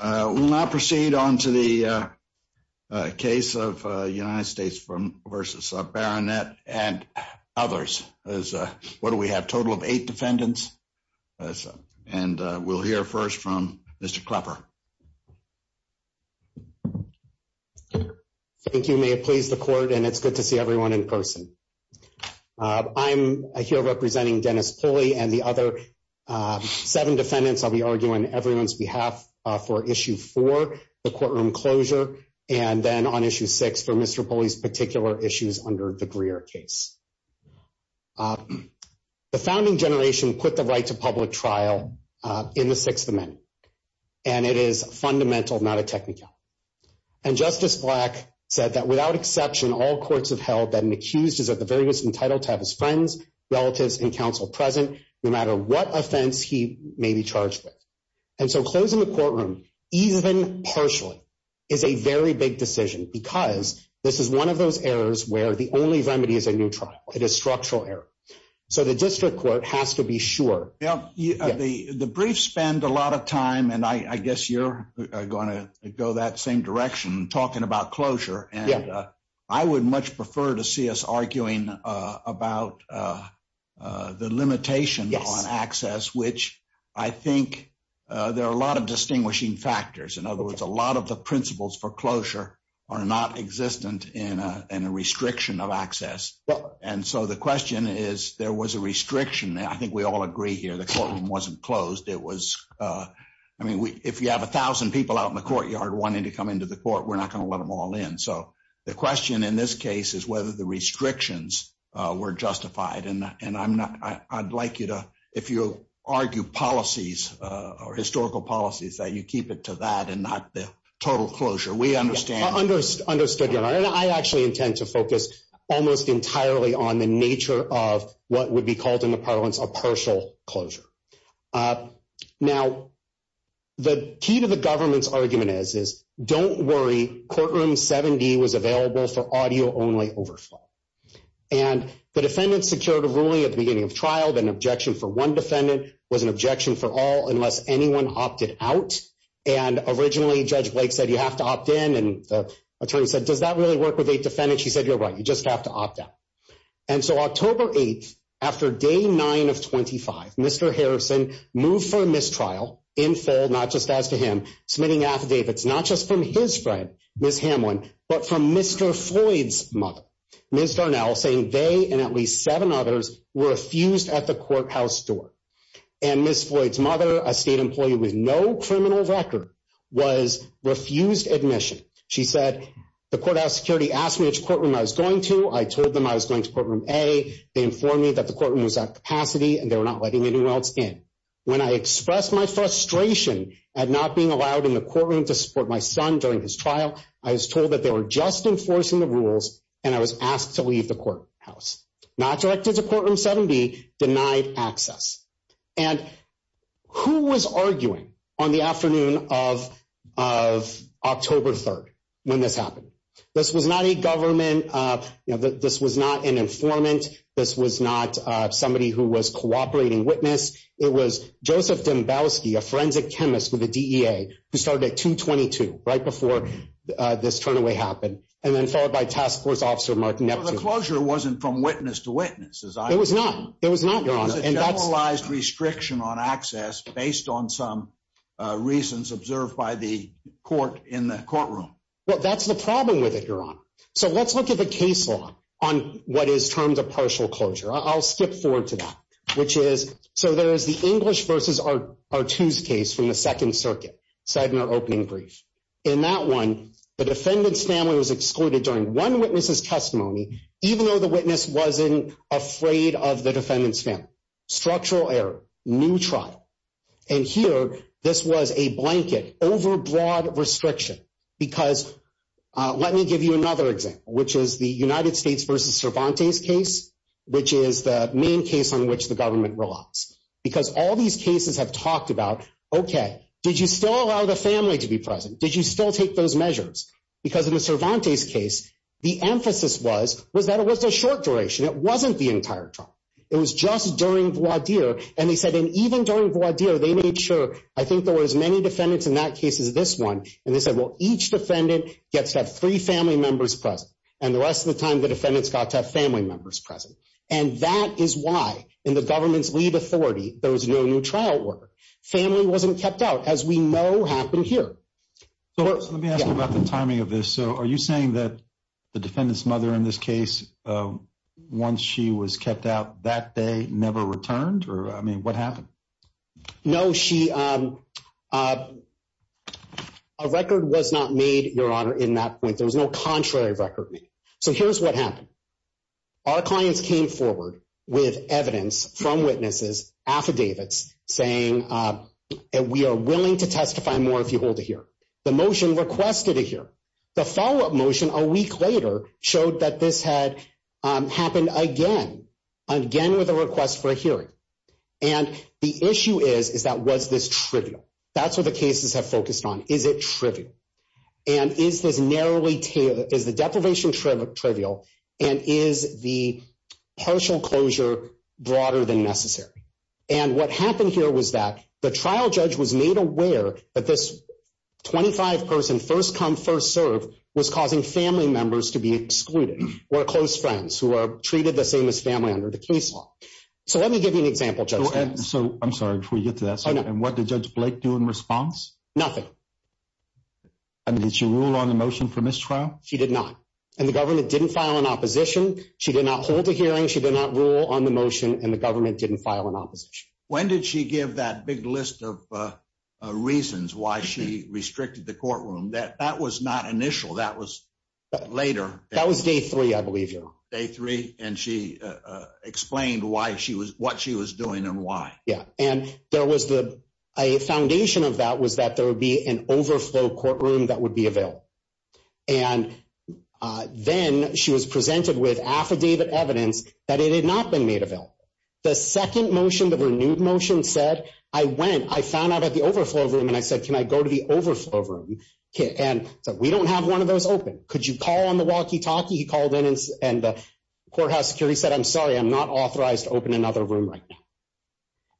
We will now proceed on to the case of United States v. Barronette and others. What do we have? A total of eight defendants and we will hear first from Mr. Klepper. Thank you, may it please the court, and it is good to see everyone in person. I am here representing Dennis Pulley and the other seven defendants, I will be arguing on everyone's behalf for issue four, the courtroom closure, and then on issue six for Mr. Pulley's particular issues under the Greer case. The founding generation put the right to public trial in the Sixth Amendment, and it is fundamental, not a technical. And Justice Black said that without exception, all courts have held that an accused is at the very least entitled to have his friends, relatives, and counsel present no matter what And so closing the courtroom, even partially, is a very big decision because this is one of those errors where the only remedy is a new trial, it is structural error. So the district court has to be sure. The brief spend a lot of time, and I guess you're going to go that same direction, talking about closure, and I would much prefer to see us arguing about the limitation on access, which I think there are a lot of distinguishing factors. In other words, a lot of the principles for closure are not existent in a restriction of access. And so the question is, there was a restriction, and I think we all agree here, the courtroom wasn't closed, it was, I mean, if you have a thousand people out in the courtyard wanting to come into the court, we're not going to let them all in. So the question in this case is whether the restrictions were justified, and I'd like you to, if you argue policies, or historical policies, that you keep it to that and not the total closure. We understand. Understood, Your Honor. And I actually intend to focus almost entirely on the nature of what would be called in the parlance a partial closure. Now, the key to the government's argument is, don't worry, courtroom 70 was available for audio only overflow. And the defendant secured a ruling at the beginning of trial, that an objection for one defendant was an objection for all unless anyone opted out. And originally, Judge Blake said, you have to opt in, and the attorney said, does that really work with eight defendants? She said, you're right, you just have to opt out. And so October 8th, after day nine of 25, Mr. Harrison moved for mistrial, in full, not just as to him, submitting affidavits, not just from his friend, Ms. Hamlin, but from Mr. Floyd's mother, Ms. Darnell, saying they, and at least seven others, were refused at the courthouse door. And Ms. Floyd's mother, a state employee with no criminal record, was refused admission. She said, the courthouse security asked me which courtroom I was going to, I told them I was going to courtroom A, they informed me that the courtroom was out of capacity and they were not letting anyone else in. When I expressed my frustration at not being allowed in the courtroom to support my son during his trial, I was told that they were just enforcing the rules, and I was asked to leave the courthouse. Not directed to courtroom 7B, denied access. And who was arguing on the afternoon of October 3rd when this happened? This was not a government, this was not an informant, this was not somebody who was cooperating witness. It was Joseph Dembowski, a forensic chemist with the DEA, who started at 222, right before this turnaway happened, and then followed by Task Force Officer Mark Neptune. The closure wasn't from witness to witness, as I understand. It was not. It was not, Your Honor. It was a generalized restriction on access based on some reasons observed by the court in the courtroom. Well, that's the problem with it, Your Honor. So let's look at the case law on what is termed a partial closure. I'll skip forward to that, which is, so there is the English v. Artoo's case from the Second Circuit, Sedmer opening brief. In that one, the defendant's family was excluded during one witness's testimony, even though the witness wasn't afraid of the defendant's family. Structural error. New trial. And here, this was a blanket, overbroad restriction. Because let me give you another example, which is the United States v. Cervantes case, which is the main case on which the government relies. Because all these cases have talked about, okay, did you still allow the family to be present? Did you still take those measures? Because in the Cervantes case, the emphasis was, was that it was a short duration. It wasn't the entire trial. It was just during voir dire. And they said, and even during voir dire, they made sure, I think there were as many defendants in that case as this one, and they said, well, each defendant gets to have three family members present. And the rest of the time, the defendants got to have family members present. And that is why, in the government's leave authority, there was no new trial order. Family wasn't kept out, as we know happened here. So let me ask you about the timing of this. So are you saying that the defendant's mother in this case, once she was kept out that day, never returned? Or, I mean, what happened? No, she, a record was not made, Your Honor, in that point. There was no contrary record made. So here's what happened. Our clients came forward with evidence from witnesses, affidavits, saying, we are willing to testify more if you hold it here. The motion requested it here. The follow-up motion a week later showed that this had happened again, again with a request for a hearing. And the issue is, is that was this trivial? That's what the cases have focused on. Is it trivial? And is this narrowly, is the deprivation trivial, and is the partial closure broader than necessary? And what happened here was that the trial judge was made aware that this 25-person first come first serve was causing family members to be excluded, or close friends who are treated the same as family under the case law. So let me give you an example, Judge. So I'm sorry, before you get to that. And what did Judge Blake do in response? Nothing. I mean, did she rule on the motion for mistrial? She did not. And the government didn't file an opposition. She did not hold a hearing. She did not rule on the motion, and the government didn't file an opposition. When did she give that big list of reasons why she restricted the courtroom? That was not initial. That was later. That was day three, I believe, Your Honor. Day three, and she explained why she was, what she was doing and why. Yeah. And there was the, a foundation of that was that there would be an overflow courtroom that would be available. And then she was presented with affidavit evidence that it had not been made available. The second motion, the renewed motion, said, I went, I found out about the overflow room, and I said, can I go to the overflow room? And said, we don't have one of those open. Could you call on the walkie-talkie? He called in, and the courthouse security said, I'm sorry, I'm not authorized to open another room right now.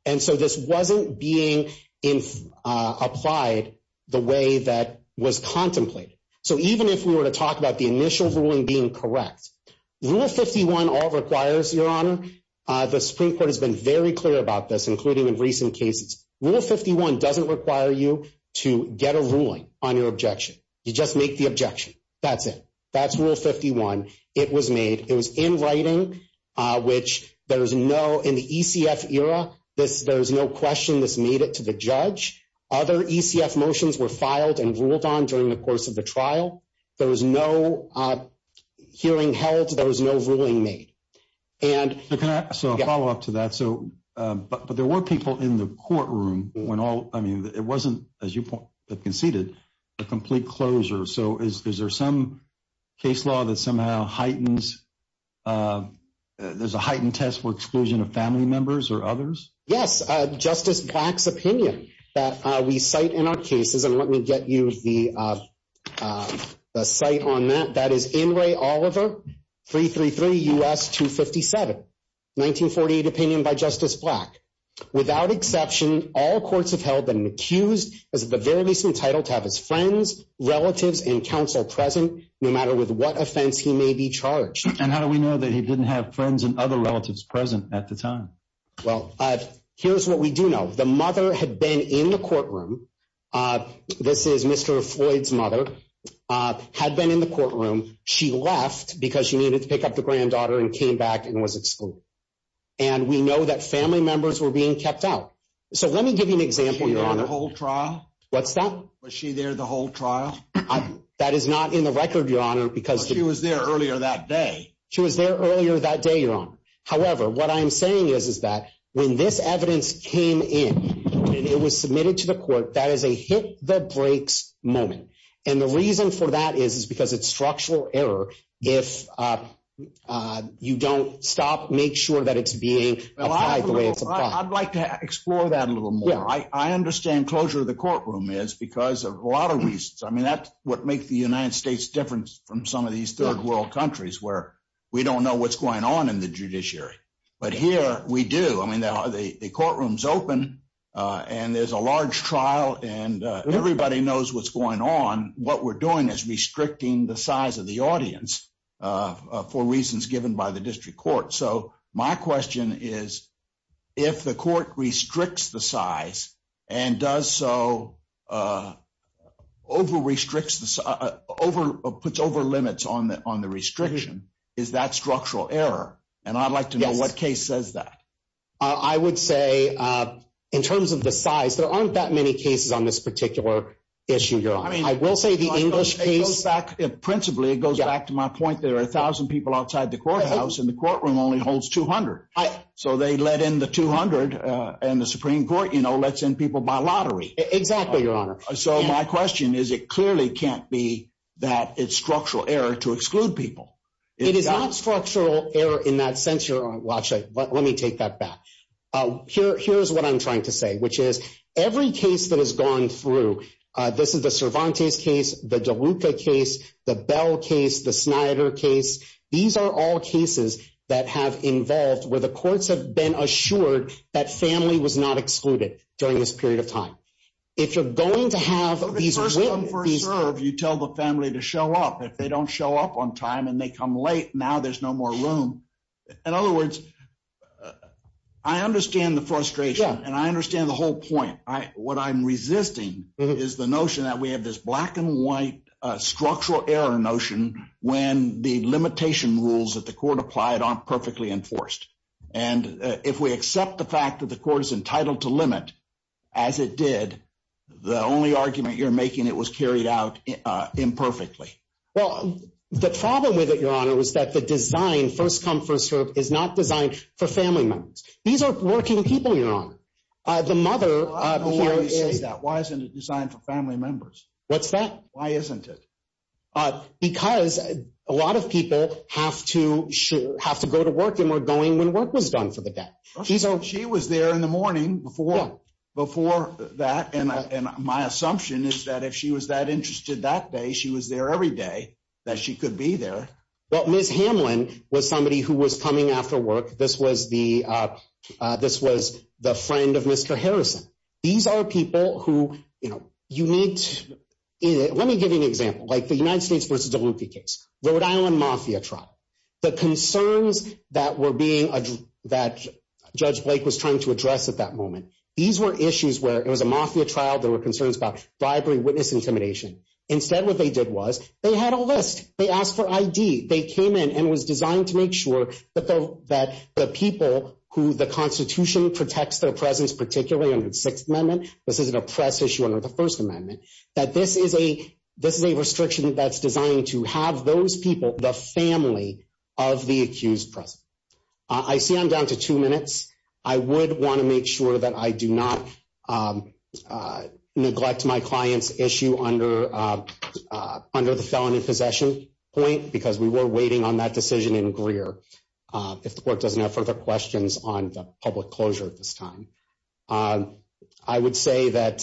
And so this wasn't being applied the way that was contemplated. So even if we were to talk about the initial ruling being correct, Rule 51 all requires, Your Honor, the Supreme Court has been very clear about this, including in recent cases. Rule 51 doesn't require you to get a ruling on your objection. You just make the objection. That's it. That's Rule 51. It was made. There was no hearing, which there is no, in the ECF era, there is no question this made it to the judge. Other ECF motions were filed and ruled on during the course of the trial. There was no hearing held. There was no ruling made. And- So can I, so a follow-up to that, so, but there were people in the courtroom when all, I mean, it wasn't, as you have conceded, a complete closure. So is there some case law that somehow heightens, there's a heightened test for exclusion of family members or others? Yes. Justice Black's opinion that we cite in our cases, and let me get you the cite on that. That is Inouye Oliver, 333 U.S. 257, 1948 opinion by Justice Black. Without exception, all courts have held that an accused is at the very least entitled to have his friends, relatives, and counsel present, no matter with what offense he may be charged. And how do we know that he didn't have friends and other relatives present at the time? Well, here's what we do know. The mother had been in the courtroom. This is Mr. Floyd's mother, had been in the courtroom. She left because she needed to pick up the granddaughter and came back and was excluded. And we know that family members were being kept out. So let me give you an example, Your Honor. Was she there the whole trial? What's that? Was she there the whole trial? That is not in the record, Your Honor, because she was there earlier that day. She was there earlier that day, Your Honor. However, what I'm saying is, is that when this evidence came in and it was submitted to the court, that is a hit the brakes moment. And the reason for that is, is because it's structural error if you don't stop, make sure that it's being applied the way it's applied. I'd like to explore that a little more. I understand closure of the courtroom is because of a lot of reasons. I mean, that's what makes the United States different from some of these third world countries where we don't know what's going on in the judiciary. But here we do. I mean, the courtroom's open and there's a large trial and everybody knows what's going on. What we're doing is restricting the size of the audience for reasons given by the district court. So my question is, if the court restricts the size and does so, puts over limits on the restriction, is that structural error? And I'd like to know what case says that. I would say, in terms of the size, there aren't that many cases on this particular issue, Your Honor. I will say the English case. It goes back, principally, it goes back to my point that there are a thousand people outside the courthouse and the courtroom only holds 200. So they let in the 200 and the Supreme Court, you know, lets in people by lottery. Exactly, Your Honor. So my question is, it clearly can't be that it's structural error to exclude people. It is not structural error in that sense, Your Honor. Well, actually, let me take that back. Here's what I'm trying to say, which is every case that has gone through, this is the Cervantes case, the DeLuca case, the Bell case, the Snyder case, these are all cases that have involved where the courts have been assured that family was not excluded during this period of time. If you're going to have these witnesses, you tell the family to show up. If they don't show up on time and they come late, now there's no more room. In other words, I understand the frustration and I understand the whole point. What I'm resisting is the notion that we have this black and white structural error notion when the limitation rules that the court applied aren't perfectly enforced. And if we accept the fact that the court is entitled to limit, as it did, the only argument you're making, it was carried out imperfectly. Well, the problem with it, Your Honor, was that the design first come, first served is These are working people, Your Honor. The mother. Why isn't it designed for family members? What's that? Why isn't it? Because a lot of people have to have to go to work and we're going when work was done for the day. She was there in the morning before, before that. And my assumption is that if she was that interested that day, she was there every day that she could be there. But Ms. Hamlin was somebody who was coming after work. This was the this was the friend of Mr. Harrison. These are people who, you know, you need to let me give you an example, like the United States versus the Luffy case, Rhode Island Mafia trial. The concerns that were being that Judge Blake was trying to address at that moment. These were issues where it was a mafia trial. There were concerns about bribery, witness intimidation. Instead, what they did was they had a list. They asked for I.D. They came in and was designed to make sure that that the people who the Constitution protects their presence, particularly under the Sixth Amendment. This isn't a press issue under the First Amendment, that this is a this is a restriction that's designed to have those people, the family of the accused. I see I'm down to two minutes. I would want to make sure that I do not neglect my client's issue under under the felon in possession point, because we were waiting on that decision in Greer. If the court doesn't have further questions on the public closure at this time, I would say that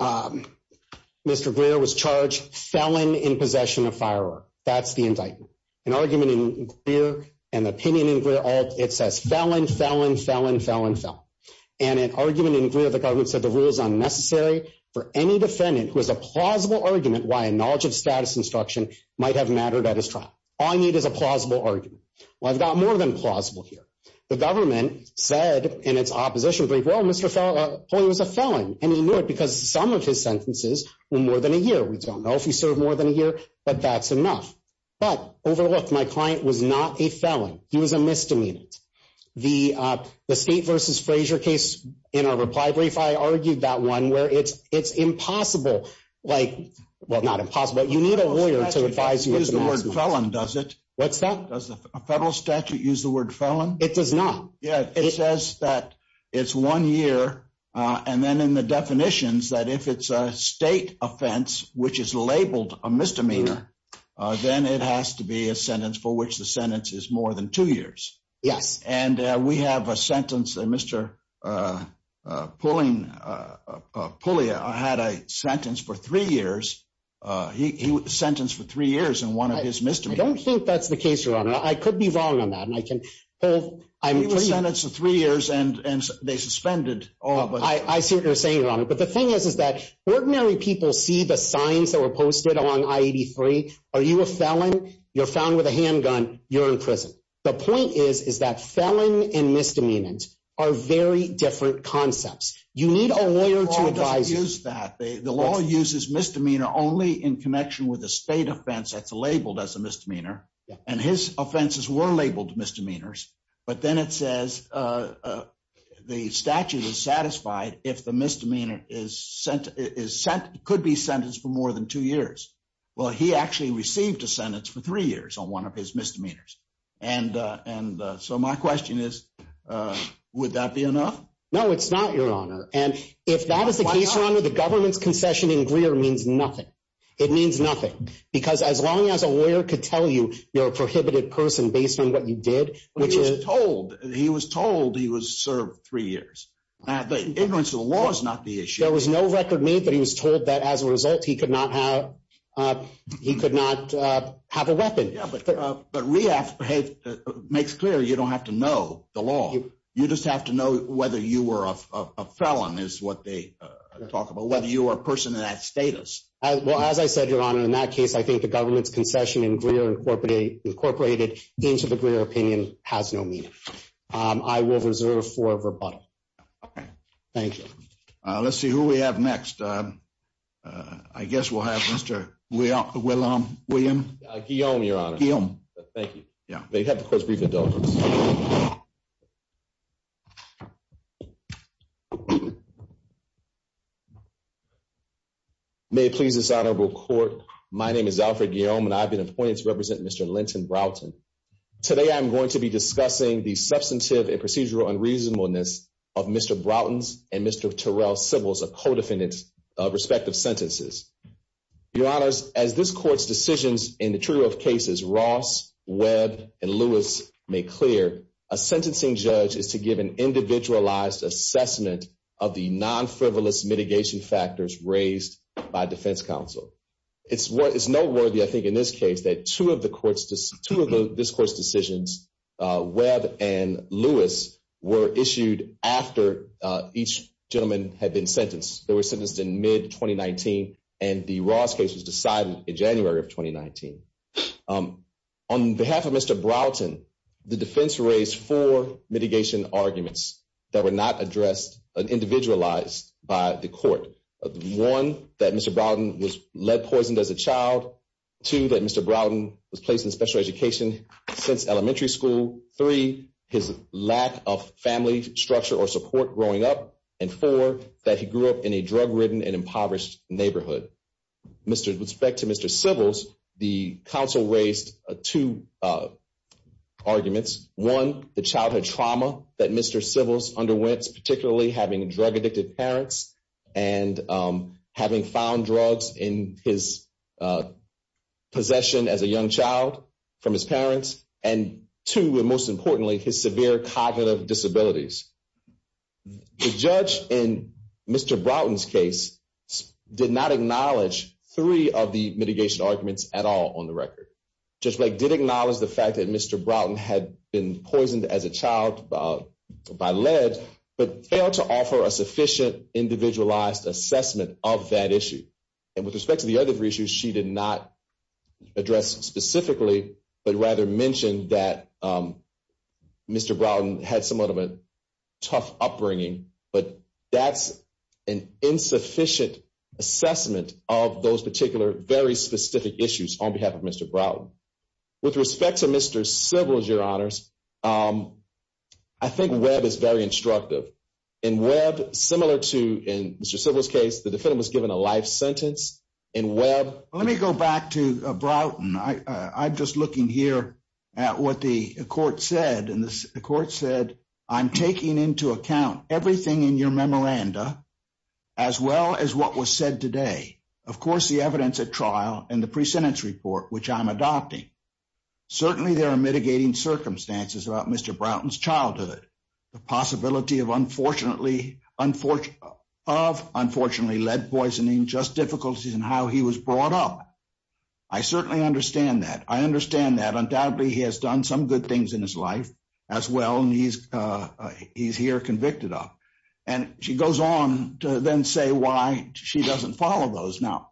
Mr. Greer was charged felon in possession of firework. That's the indictment. An argument in here and the opinion in it says felon, felon, felon, felon, felon, and an argument in the government said the rule is unnecessary for any defendant who has a plausible argument why a knowledge of status instruction might have mattered at his trial. All I need is a plausible argument. Well, I've got more than plausible here. The government said in its opposition brief, well, Mr. Fowler was a felon and he knew it because some of his sentences were more than a year. We don't know if he served more than a year, but that's enough. But overlooked, my client was not a felon. He was a misdemeanor. The the state versus Frazier case in our reply brief, I argued that one where it's it's impossible, like, well, not impossible, but you need a lawyer to advise you is the word felon, does it? What's that? Does a federal statute use the word felon? It does not. Yeah. It says that it's one year. And then in the definitions that if it's a state offense, which is labeled a misdemeanor, then it has to be a sentence for which the sentence is more than two years. Yes. And we have a sentence that Mr. Pulling Pullia had a sentence for three years. He was sentenced for three years in one of his misdemeanors. I don't think that's the case, your honor. I could be wrong on that. And I can hold I'm sentenced to three years. And they suspended all of us. I see what you're saying, your honor. But the thing is, is that ordinary people see the signs that were posted on I-83. Are you a felon? You're found with a handgun. You're in prison. The point is, is that felon and misdemeanors are very different concepts. You need a lawyer to advise you that the law uses misdemeanor only in connection with a state offense that's labeled as a misdemeanor. And his offenses were labeled misdemeanors. But then it says the statute is satisfied if the misdemeanor is sent, is sent, could be sentenced for more than two years. Well, he actually received a sentence for three years on one of his misdemeanors. And and so my question is, would that be enough? No, it's not, your honor. And if that is the case, your honor, the government's concession in Greer means nothing. It means nothing. Because as long as a lawyer could tell you you're a prohibited person based on what you did, which is told he was told he was served three years. And the ignorance of the law is not the issue. There was no record made that he was told that as a result, he could not have he could not have a weapon. Yeah, but but rehab makes clear you don't have to know the law. You just have to know whether you were a felon is what they talk about, whether you were a person in that status. Well, as I said, your honor, in that case, I think the government's concession in Greer incorporated incorporated into the Greer opinion has no meaning. I will reserve for rebuttal. OK, thank you. Let's see who we have next. I guess we'll have Mr. Well, well, William Guillaume, your honor, Guillaume, thank you. Yeah, they have the court's rebuttal. May it please this honorable court. My name is Alfred Guillaume and I've been appointed to represent Mr. Linton Broughton. Today, I'm going to be discussing the substantive and procedural unreasonableness of Mr. Broughton's and Mr. Terrell civils, a co-defendant's respective sentences. Your honors, as this court's decisions in the trial of cases, Ross, Webb and Lewis make clear a sentencing judge is to give an individualized assessment of the non-frivolous mitigation factors raised by defense counsel. It's what is noteworthy, I think, in this case that two of the courts, two of this court's decisions, Webb and Lewis, were issued after each gentleman had been sentenced. They were sentenced in mid 2019. And the Ross case was decided in January of 2019. On behalf of Mr. Broughton, the defense raised four mitigation arguments that were not addressed and individualized by the court. One, that Mr. Broughton was lead poisoned as a child. Two, that Mr. Broughton was placed in special education since elementary school. Three, his lack of family structure or support growing up. And four, that he grew up in a drug ridden and impoverished neighborhood. With respect to Mr. Sybils, the counsel raised two arguments. One, the childhood trauma that Mr. Sybils underwent, particularly having drug addicted parents and having found drugs in his possession as a young child from his parents. And two, and most importantly, his severe cognitive disabilities. The judge in Mr. Broughton's case did not acknowledge three of the mitigation arguments at all on the record. Judge Blake did acknowledge the fact that Mr. Broughton had been poisoned as a child by lead, but failed to offer a sufficient individualized assessment of that issue. And with respect to the other three issues, she did not address specifically, but rather mentioned that Mr. Broughton had somewhat of a tough upbringing, but that's an insufficient assessment of those particular, very specific issues on behalf of Mr. Broughton. With respect to Mr. Sybils, your honors, I think Webb is very instructive. In Webb, similar to in Mr. Sybils case, the defendant was given a life sentence in Webb. Let me go back to Broughton. I'm just looking here at what the court said, and the court said, I'm taking into account everything in your memoranda, as well as what was said today. Of course, the evidence at trial and the pre-sentence report, which I'm adopting. Certainly there are mitigating circumstances about Mr. Broughton's childhood, the possibility of unfortunately, of unfortunately lead poisoning, just difficulties in how he was brought up. I certainly understand that. I understand that undoubtedly he has done some good things in his life as well. And he's, uh, he's here convicted of, and she goes on to then say why she doesn't follow those. Now,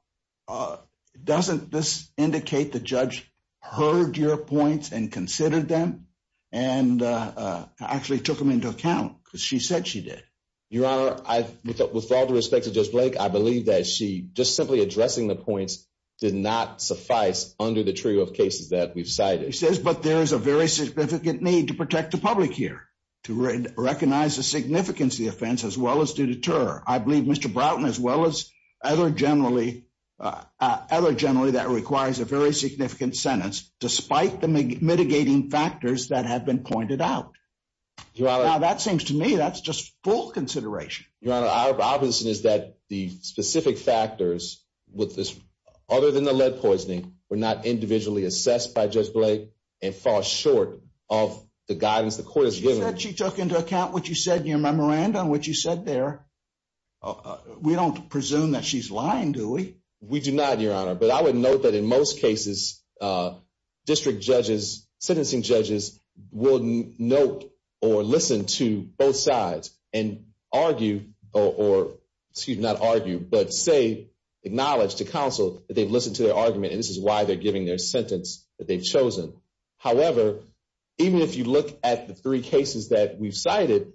uh, doesn't this indicate the judge heard your points and considered them and, uh, uh, actually took them into account because she said she did. Your honor. I, with all due respect to Judge Blake, I believe that she just simply addressing the points did not suffice under the trio of cases that we've cited. He says, but there is a very significant need to protect the public here, to recognize the significance of the offense, as well as to deter. I believe Mr. Broughton, as well as other generally, uh, uh, other generally that requires a very significant sentence, despite the mitigating factors that have been pointed out, that seems to me, that's just full consideration. Your honor. I Robinson is that the specific factors with this, other than the lead poisoning were not individually assessed by Judge Blake and fall short of the guidance. The court has given, she took into account what you said in your memorandum, what you said there. Uh, we don't presume that she's lying. Do we? We do not your honor. But I would note that in most cases, uh, district judges, sentencing judges will note or listen to both sides and argue or, excuse me, not argue, but say acknowledge to counsel that they've listened to their argument and this is why they're giving their sentence that they've chosen. However, even if you look at the three cases that we've cited,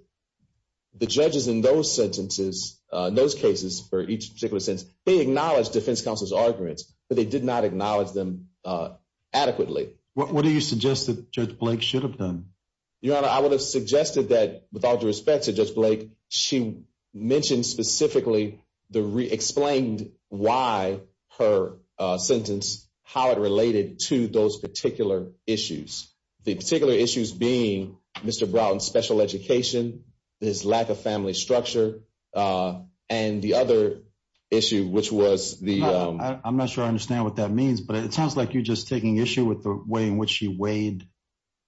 the judges in those sentences, uh, those cases for each particular sense, they acknowledge defense counsel's arguments, but they did not acknowledge them, uh, adequately. What do you suggest that Judge Blake should have done? Your honor. I would have suggested that with all due respect to Judge Blake, she mentioned specifically the re explained why her sentence, how it related to those particular issues, the particular issues being Mr. Brown's special education, his lack of family structure, uh, and the other issue, which was the, um, I'm not sure I understand what that means, but it sounds like you're just taking issue with the way in which she weighed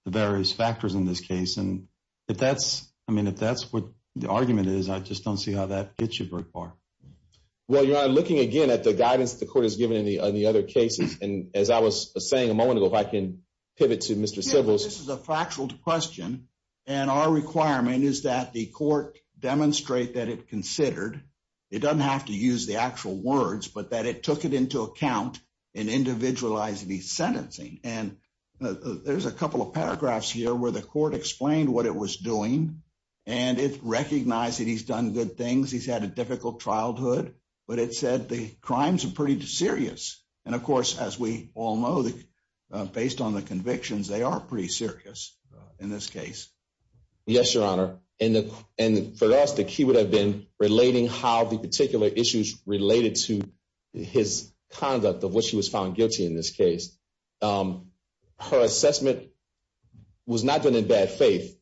the various factors in this case. And if that's, I mean, if that's what the argument is, I just don't see how that gets you. Well, you're looking again at the guidance that the court has given in the, on the other cases. And as I was saying a moment ago, if I can pivot to Mr. Sybil's, this is a factual question. And our requirement is that the court demonstrate that it considered it doesn't have to use the actual words, but that it took it into account and individualized the sentencing. And there's a couple of paragraphs here where the court explained what it was doing and it recognized that he's done good things. He's had a difficult childhood, but it said the crimes are pretty serious. And of course, as we all know, based on the convictions, they are pretty serious in this case. Yes, Your Honor. And for us, the key would have been relating how the particular issues related to his conduct of what she was found guilty in this case. Um, her assessment was not done in bad faith.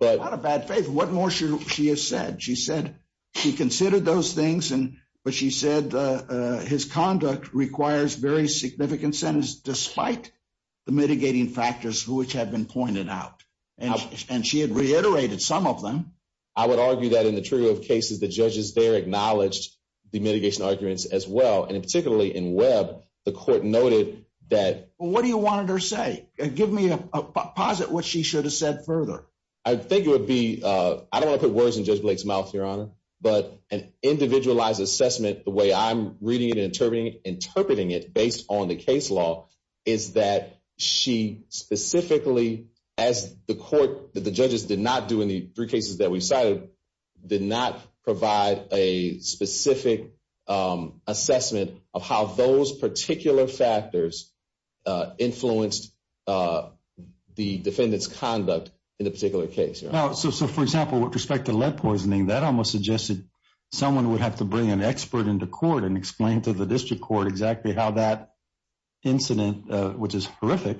But out of bad faith, what more should she have said? She said she considered those things and, but she said, uh, uh, his conduct requires very significant sentence, despite the mitigating factors, which have been pointed out and she had reiterated some of them. I would argue that in the trio of cases, the judges there acknowledged the mitigation arguments as well. And in particularly in Webb, the court noted that. What do you want her to say? Give me a posit what she should have said further. I think it would be, uh, I don't want to put words in judge Blake's mouth, Your Honor, but an individualized assessment, the way I'm reading it and interpreting it, interpreting it based on the case law is that she specifically as the court that the judges did not do in the three cases that we've cited did not provide a specific, um, assessment of how those particular factors, uh, influenced, uh, the defendant's conduct in a particular case. So, so for example, with respect to lead poisoning, that almost suggested someone would have to bring an expert into court and explain to the district court exactly how that incident, uh, which is horrific,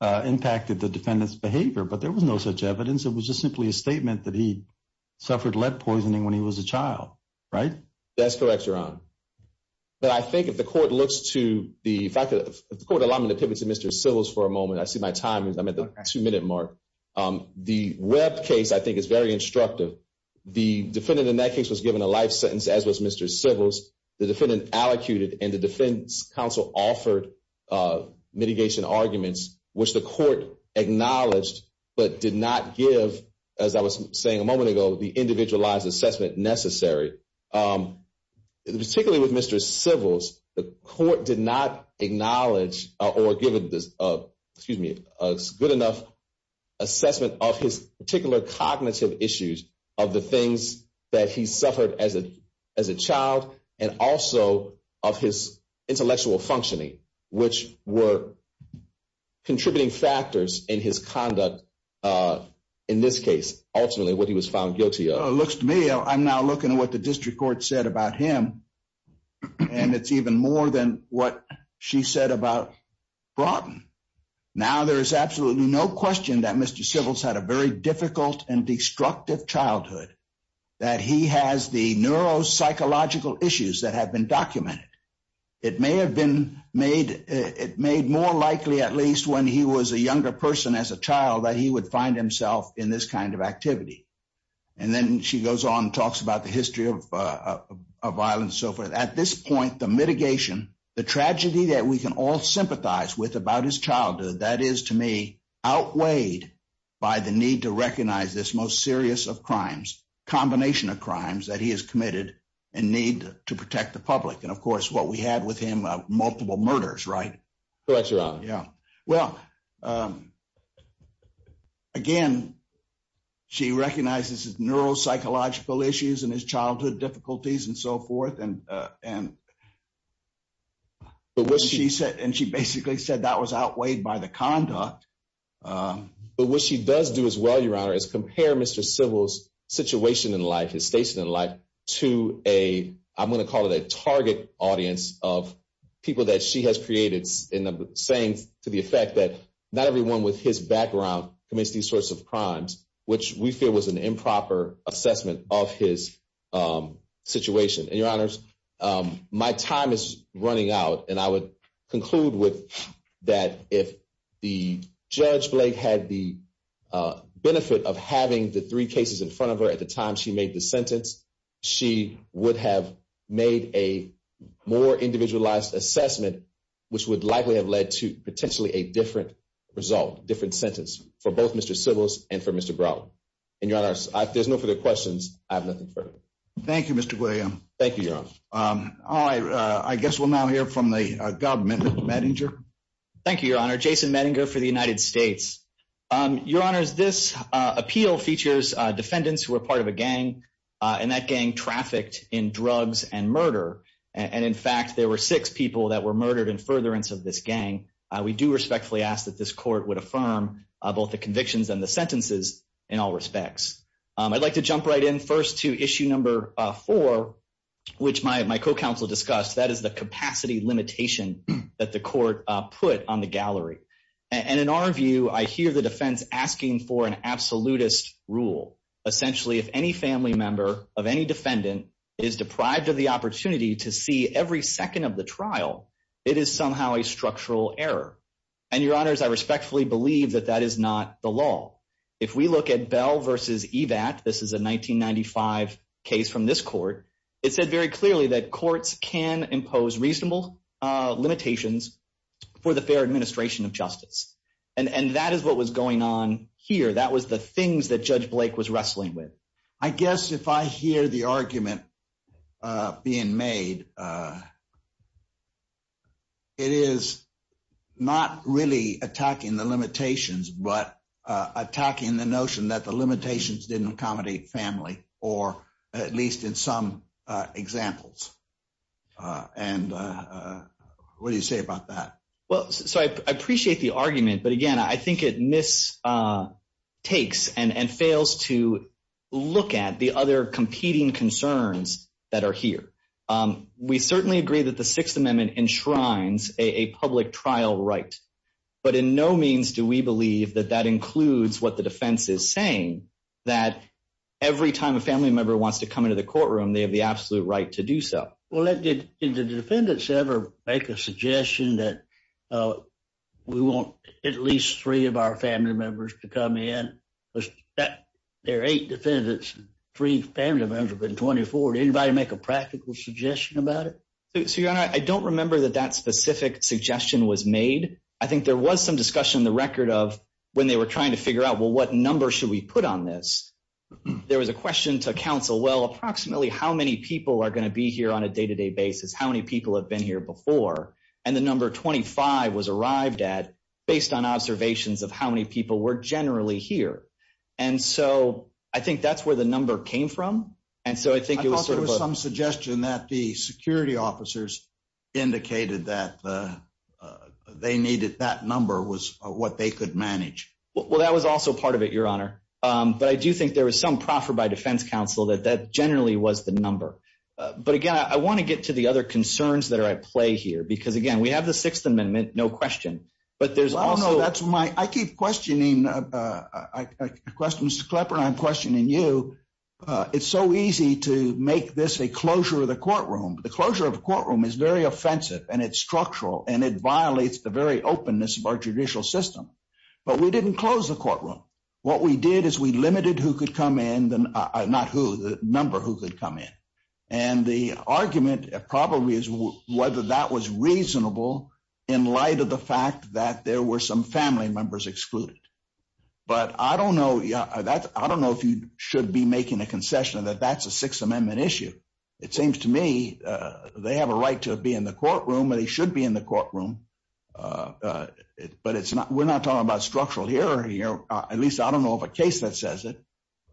uh, impacted the defendant's behavior, but there was no such evidence. It was just simply a statement that he suffered lead poisoning when he was a child, right? That's correct, Your Honor. But I think if the court looks to the fact that the court allowed me to pivot to Mr. Sybil's for a moment, I see my time is I'm at the two minute mark. Um, the Webb case, I think is very instructive. The defendant in that case was given a life sentence as was Mr. Sybil's, the defendant allocated and the defense council offered, uh, mitigation arguments, which the court acknowledged, but did not give, as I was saying a, um, particularly with Mr. Sybil's, the court did not acknowledge, uh, or given this, uh, excuse me, a good enough assessment of his particular cognitive issues of the things that he suffered as a, as a child, and also of his intellectual functioning, which were contributing factors in his conduct, uh, in this case, ultimately what he was found guilty of. It looks to me, I'm now looking at what the district court said about him, and it's even more than what she said about Broughton. Now, there is absolutely no question that Mr. Sybil's had a very difficult and destructive childhood, that he has the neuropsychological issues that have been documented. It may have been made, it made more likely, at least when he was a younger person as a child, that he would find himself in this kind of activity. And then she goes on and talks about the history of, uh, of violence. So for at this point, the mitigation, the tragedy that we can all sympathize with about his childhood, that is to me outweighed by the need to recognize this most serious of crimes, combination of crimes that he has committed and need to protect the public. And of course, what we had with him, uh, multiple murders, right? Correct your honor. Yeah. Well, um, again, she recognizes his neuropsychological issues and his childhood difficulties and so forth. And, uh, and she said, and she basically said that was outweighed by the conduct. Um, but what she does do as well, your honor is compare Mr. Sybil's situation in life, his station in life to a, I'm going to call it a audience of people that she has created in the saying to the effect that not everyone with his background commits these sorts of crimes, which we feel was an improper assessment of his, um, situation. And your honors, um, my time is running out and I would conclude with that. If the judge Blake had the, uh, benefit of having the three cases in front of her at the time she made the sentence, she would have made a more individualized assessment, which would likely have led to potentially a different result, different sentence for both Mr. Sybil's and for Mr. Brown. And your honors, if there's no further questions, I have nothing further. Thank you, Mr. William. Thank you, your honor. Um, I, uh, I guess we'll now hear from the government manager. Thank you, your honor. Jason Medinger for the United States. Um, your honors, this, uh, appeal features, uh, defendants who were part of a gang, uh, and that gang trafficked in drugs and murder. And in fact, there were six people that were murdered in furtherance of this gang. Uh, we do respectfully ask that this court would affirm, uh, both the convictions and the sentences in all respects. Um, I'd like to jump right in first to issue number four, which my, my co-counsel discussed, that is the capacity limitation that the court put on the gallery. And in our view, I hear the defense asking for an absolutist rule. Essentially, if any family member of any defendant is deprived of the opportunity to see every second of the trial, it is somehow a structural error. And your honors, I respectfully believe that that is not the law. If we look at bell versus EVAT, this is a 1995 case from this court. It said very clearly that courts can impose reasonable, uh, limitations for the fair administration of justice. And that is what was going on here. That was the things that judge Blake was wrestling with. I guess if I hear the argument, uh, being made, uh, it is not really attacking the limitations, but, uh, attacking the notion that the limitations didn't accommodate family, or at least in some, uh, examples. Uh, and, uh, what do you say about that? Well, so I appreciate the argument, but again, I think it miss, uh, takes and, and fails to look at the other competing concerns that are here. Um, we certainly agree that the sixth amendment enshrines a public trial right. But in no means do we believe that that includes what the defense is saying, that every time a family member wants to come into the courtroom, they have the absolute right to do so. Well, let's get into the defendants ever make a suggestion that, uh, we want at least three of our family members to come in that there are eight defendants, three family members have been 24. Did anybody make a practical suggestion about it? So your honor, I don't remember that that specific suggestion was made. I think there was some discussion in the record of when they were trying to figure out, well, what number should we put on this? There was a question to counsel. Well, approximately how many people are going to be here on a day-to-day basis? How many people have been here before? And the number 25 was arrived at based on observations of how many people were generally here. And so I think that's where the number came from. And so I think it was some suggestion that the security officers indicated that, uh, uh, they needed that number was what they could manage. Well, that was also part of it, your honor. Um, but I do think there was some proffer by defense counsel that that generally was the number. Uh, but again, I want to get to the other concerns that are at play here, because again, we have the sixth amendment, no question, but there's also, that's my, I keep questioning, uh, uh, uh, uh, question, Mr. Klepper and I'm questioning you. Uh, it's so easy to make this a closure of the courtroom. The closure of the courtroom is very offensive and it's structural and it What we did is we limited who could come in then, uh, not who the number who could come in and the argument probably is whether that was reasonable in light of the fact that there were some family members excluded, but I don't know that. I don't know if you should be making a concession that that's a sixth amendment issue. It seems to me, uh, they have a right to be in the courtroom and he should be in the courtroom. Uh, uh, but it's not, we're not talking about structural here. You know, at least I don't know if a case that says it,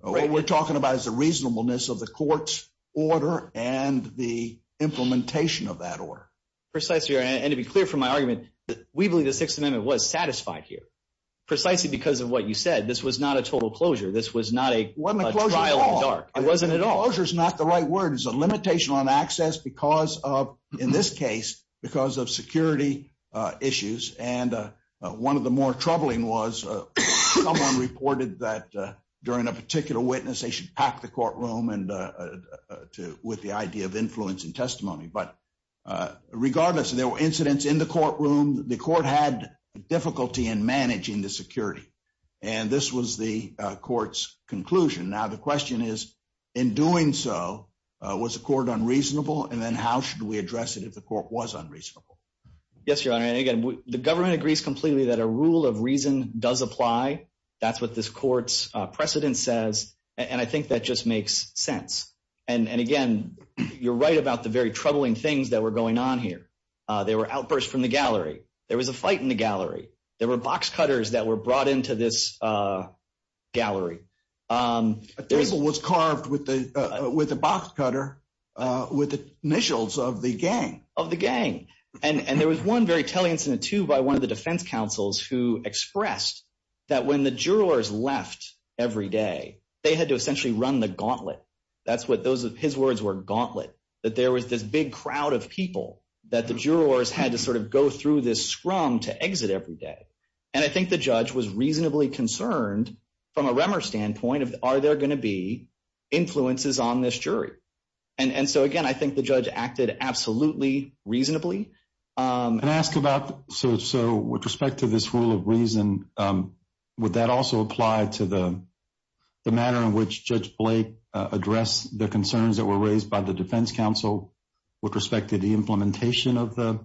what we're talking about is the reasonableness of the court's order and the implementation of that order. Precisely. And to be clear from my argument, we believe the sixth amendment was satisfied here, precisely because of what you said, this was not a total closure. This was not a trial in the dark. It wasn't at all. Closure is not the right word. It's a limitation on access because of, in this case, because of security, uh, reported that, uh, during a particular witness, they should pack the courtroom and, uh, uh, to, with the idea of influence and testimony, but, uh, regardless of there were incidents in the courtroom, the court had difficulty in managing the security and this was the court's conclusion. Now, the question is in doing so, uh, was the court unreasonable? And then how should we address it? If the court was unreasonable. Yes, Your Honor. And again, the government agrees completely that a rule of reason does apply. That's what this court's precedent says. And I think that just makes sense. And again, you're right about the very troubling things that were going on here. Uh, they were outbursts from the gallery. There was a fight in the gallery. There were box cutters that were brought into this, uh, gallery. Um, A pencil was carved with the, uh, with the box cutter, uh, with the initials of the gang. Of the gang. And, and there was one very telling incident too, by one of the defense counsels who expressed that when the jurors left every day, they had to essentially run the gauntlet. That's what those of his words were gauntlet. That there was this big crowd of people that the jurors had to sort of go through this scrum to exit every day. And I think the judge was reasonably concerned from a Remmer standpoint of, are there going to be influences on this jury? And, and so again, I think the judge acted absolutely reasonably. Um, and ask about, so, so with respect to this rule of reason, um, would that also apply to the, the matter in which judge Blake, uh, address the concerns that were raised by the defense counsel with respect to the implementation of the,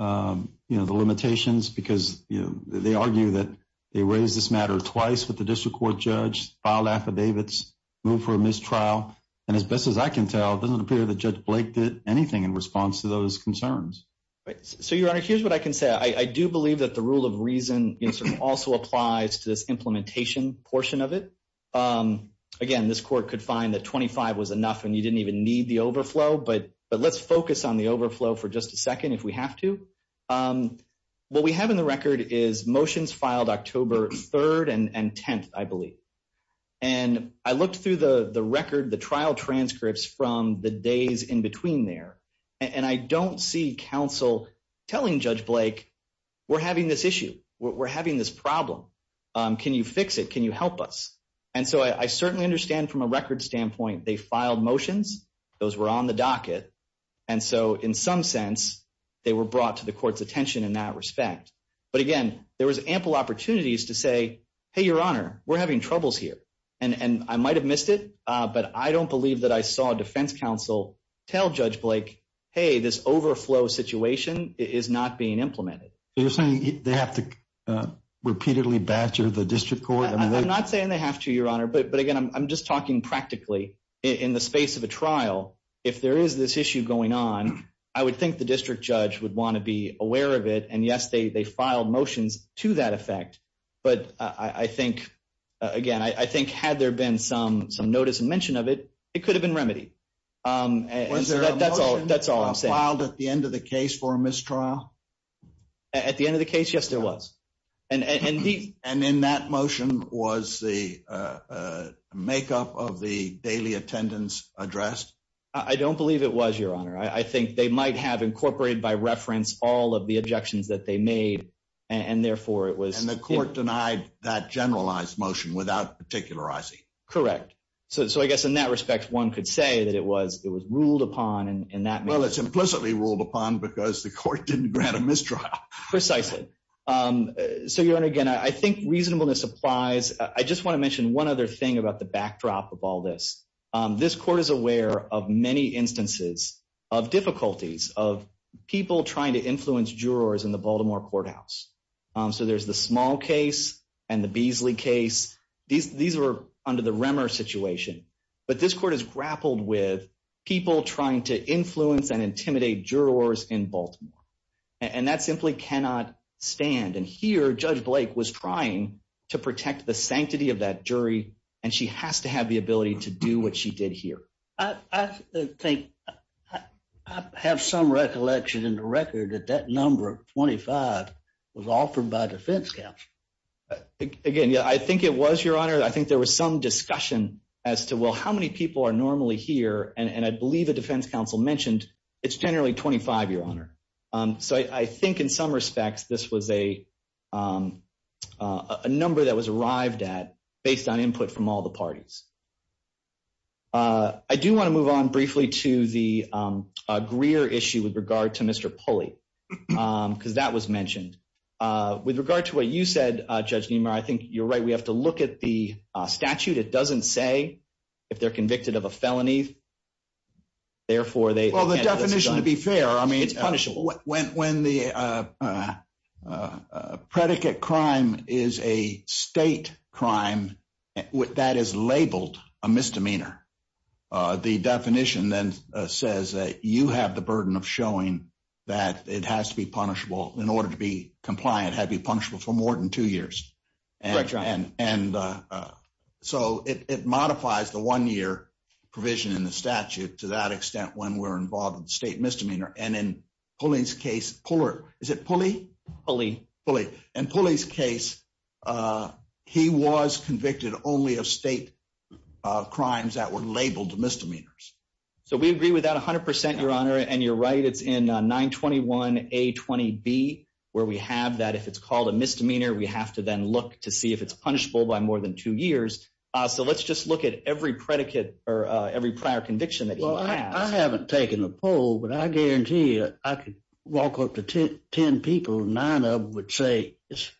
um, you know, the limitations, because, you know, they argue that they raised this matter twice with the district court judge filed affidavits move for a mistrial. And as best as I can tell, it doesn't appear that judge Blake did anything in response to those concerns. Right. So your honor, here's what I can say. I do believe that the rule of reason also applies to this implementation portion of it. Um, again, this court could find that 25 was enough and you didn't even need the overflow, but, but let's focus on the overflow for just a second. If we have to, um, what we have in the record is motions filed October 3rd and 10th, I believe. And I looked through the, the record, the trial transcripts from the days in between there. And I don't see counsel telling judge Blake, we're having this issue. We're having this problem. Um, can you fix it? Can you help us? And so I certainly understand from a record standpoint, they filed motions. Those were on the docket. And so in some sense, they were brought to the court's attention in that respect. But again, there was ample opportunities to say, Hey, your honor, we're having troubles here. And, and I might've missed it. Uh, but I don't believe that I saw a defense counsel tell judge Blake, Hey, this overflow situation is not being implemented. You're saying they have to, uh, repeatedly badger the district court. I'm not saying they have to your honor, but, but again, I'm just talking practically in the space of a trial. If there is this issue going on, I would think the district judge would want to be aware of it. And yes, they, they filed motions to that effect. But I think, again, I think had there been some, some notice and mention of it, it could have been remedied. Um, and that's all, that's all I'm saying filed at the end of the case for a mistrial at the end of the case. Yes, there was. And, and, and the, and in that motion was the, uh, uh, makeup of the daily attendance addressed. I don't believe it was your honor. I think they might have incorporated by reference, all of the objections that they made and therefore it was, and the court denied that generalized motion without particular, I see. Correct. So, so I guess in that respect, one could say that it was, it was ruled upon and that implicitly ruled upon because the court didn't grant a mistrial precisely. Um, so your honor, again, I think reasonableness applies. I just want to mention one other thing about the backdrop of all this. Um, this court is aware of many instances of difficulties of people trying to get into the Baltimore courthouse. Um, so there's the small case and the Beasley case. These, these are under the Remmer situation, but this court has grappled with people trying to influence and intimidate jurors in Baltimore and that simply cannot stand. And here judge Blake was trying to protect the sanctity of that jury. And she has to have the ability to do what she did here. I think I have some recollection in the record that that number of 25 was offered by defense counsel. Again, yeah, I think it was your honor. I think there was some discussion as to, well, how many people are normally here? And I believe a defense counsel mentioned it's generally 25, your honor. Um, so I think in some respects, this was a, um, uh, a number that was arrived at based on input from all the parties. Uh, I do want to move on briefly to the, um, uh, Greer issue with regard to Mr. Pulley. Um, cause that was mentioned, uh, with regard to what you said, uh, judge Neumayer, I think you're right. We have to look at the statute. It doesn't say if they're convicted of a felony, therefore they, well, the definition to be fair, I mean, when, when the, uh, uh, uh, uh, predicate crime is a state crime that is labeled a misdemeanor, uh, the definition then, uh, says that you have the burden of showing that it has to be punishable in order to be compliant, had be punishable for more than two years and, uh, uh, so it, it modifies the one year provision in the statute to that extent when we're involved in the state misdemeanor. And in Pulley's case, Puller, is it Pulley? Pulley. Pulley. In Pulley's case, uh, he was convicted only of state, uh, crimes that were labeled misdemeanors. So we agree with that a hundred percent, your honor. And you're right. It's in a nine 21, a 20 B where we have that. If it's called a misdemeanor, we have to then look to see if it's punishable by more than two years. Uh, so let's just look at every predicate or, uh, every prior conviction that I haven't taken a poll, but I guarantee I could walk up to 10, 10 people, nine of which say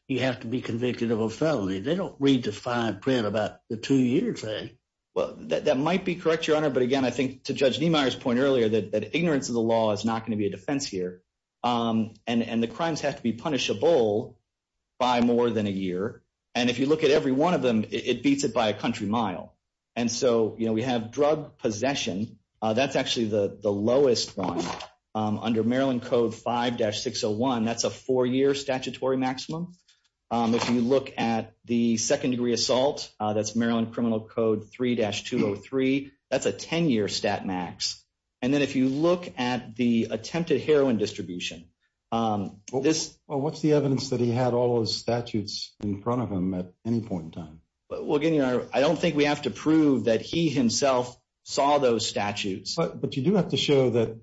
you have to be convicted of a felony. They don't read the fine print about the two year thing. Well, that, that might be correct, your honor. But again, I think to judge Niemeyer's point earlier that ignorance of the law is not going to be a defense here. Um, and, and the crimes have to be punishable by more than a year. And if you look at every one of them, it beats it by a country mile. And so, you know, we have drug possession. Uh, that's actually the lowest one, um, under Maryland code five dash 601. That's a four year statutory maximum. Um, if you look at the second degree assault, uh, that's Maryland criminal code three dash 203. That's a 10 year stat max. And then if you look at the attempted heroin distribution, um, well, what's the evidence that he had all those statutes in front of him at any point in time? Well, again, you know, I don't think we have to prove that he himself saw those statutes. But you do have to show that,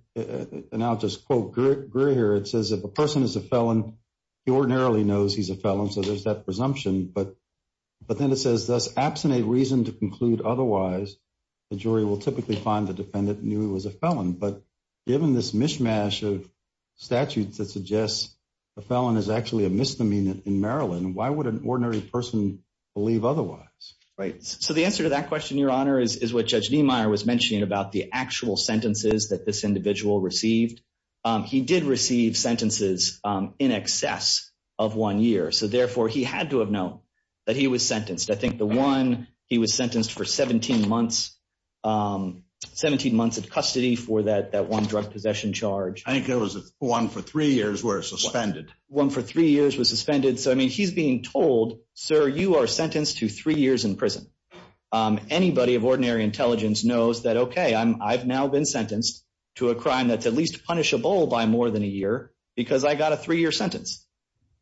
and I'll just quote Greer here. It says, if a person is a felon, he ordinarily knows he's a felon. So there's that presumption, but, but then it says thus absent a reason to conclude otherwise, the jury will typically find the defendant knew he was a felon, but given this mishmash of statutes that suggests a felon is actually a misdemeanor in Maryland. Why would an ordinary person believe otherwise? Right. So the answer to that question, your honor, is, is what judge Niemeyer was mentioning about the actual sentences that this individual received. Um, he did receive sentences, um, in excess of one year. So therefore he had to have known that he was sentenced. I think the one he was sentenced for 17 months, um, 17 months of custody for that, that one drug possession charge. I think it was one for three years were suspended. One for three years was suspended. So, I mean, he's being told, sir, you are sentenced to three years in prison. Um, anybody of ordinary intelligence knows that, okay, I'm, I've now been to a crime that's at least punishable by more than a year because I got a three year sentence.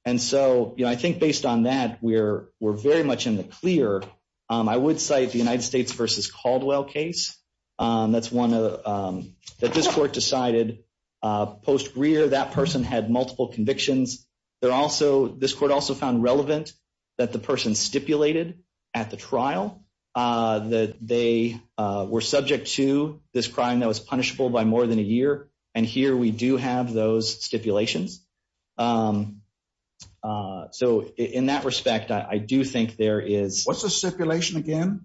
And so, you know, I think based on that, we're, we're very much in the clear. Um, I would cite the United States versus Caldwell case. Um, that's one of, um, that this court decided, uh, post rear, that person had multiple convictions. They're also, this court also found relevant that the person stipulated at the trial, uh, that they, uh, were subject to this crime that was punishable by more than a year. And here we do have those stipulations. Um, uh, so in that respect, I do think there is, what's the stipulation again?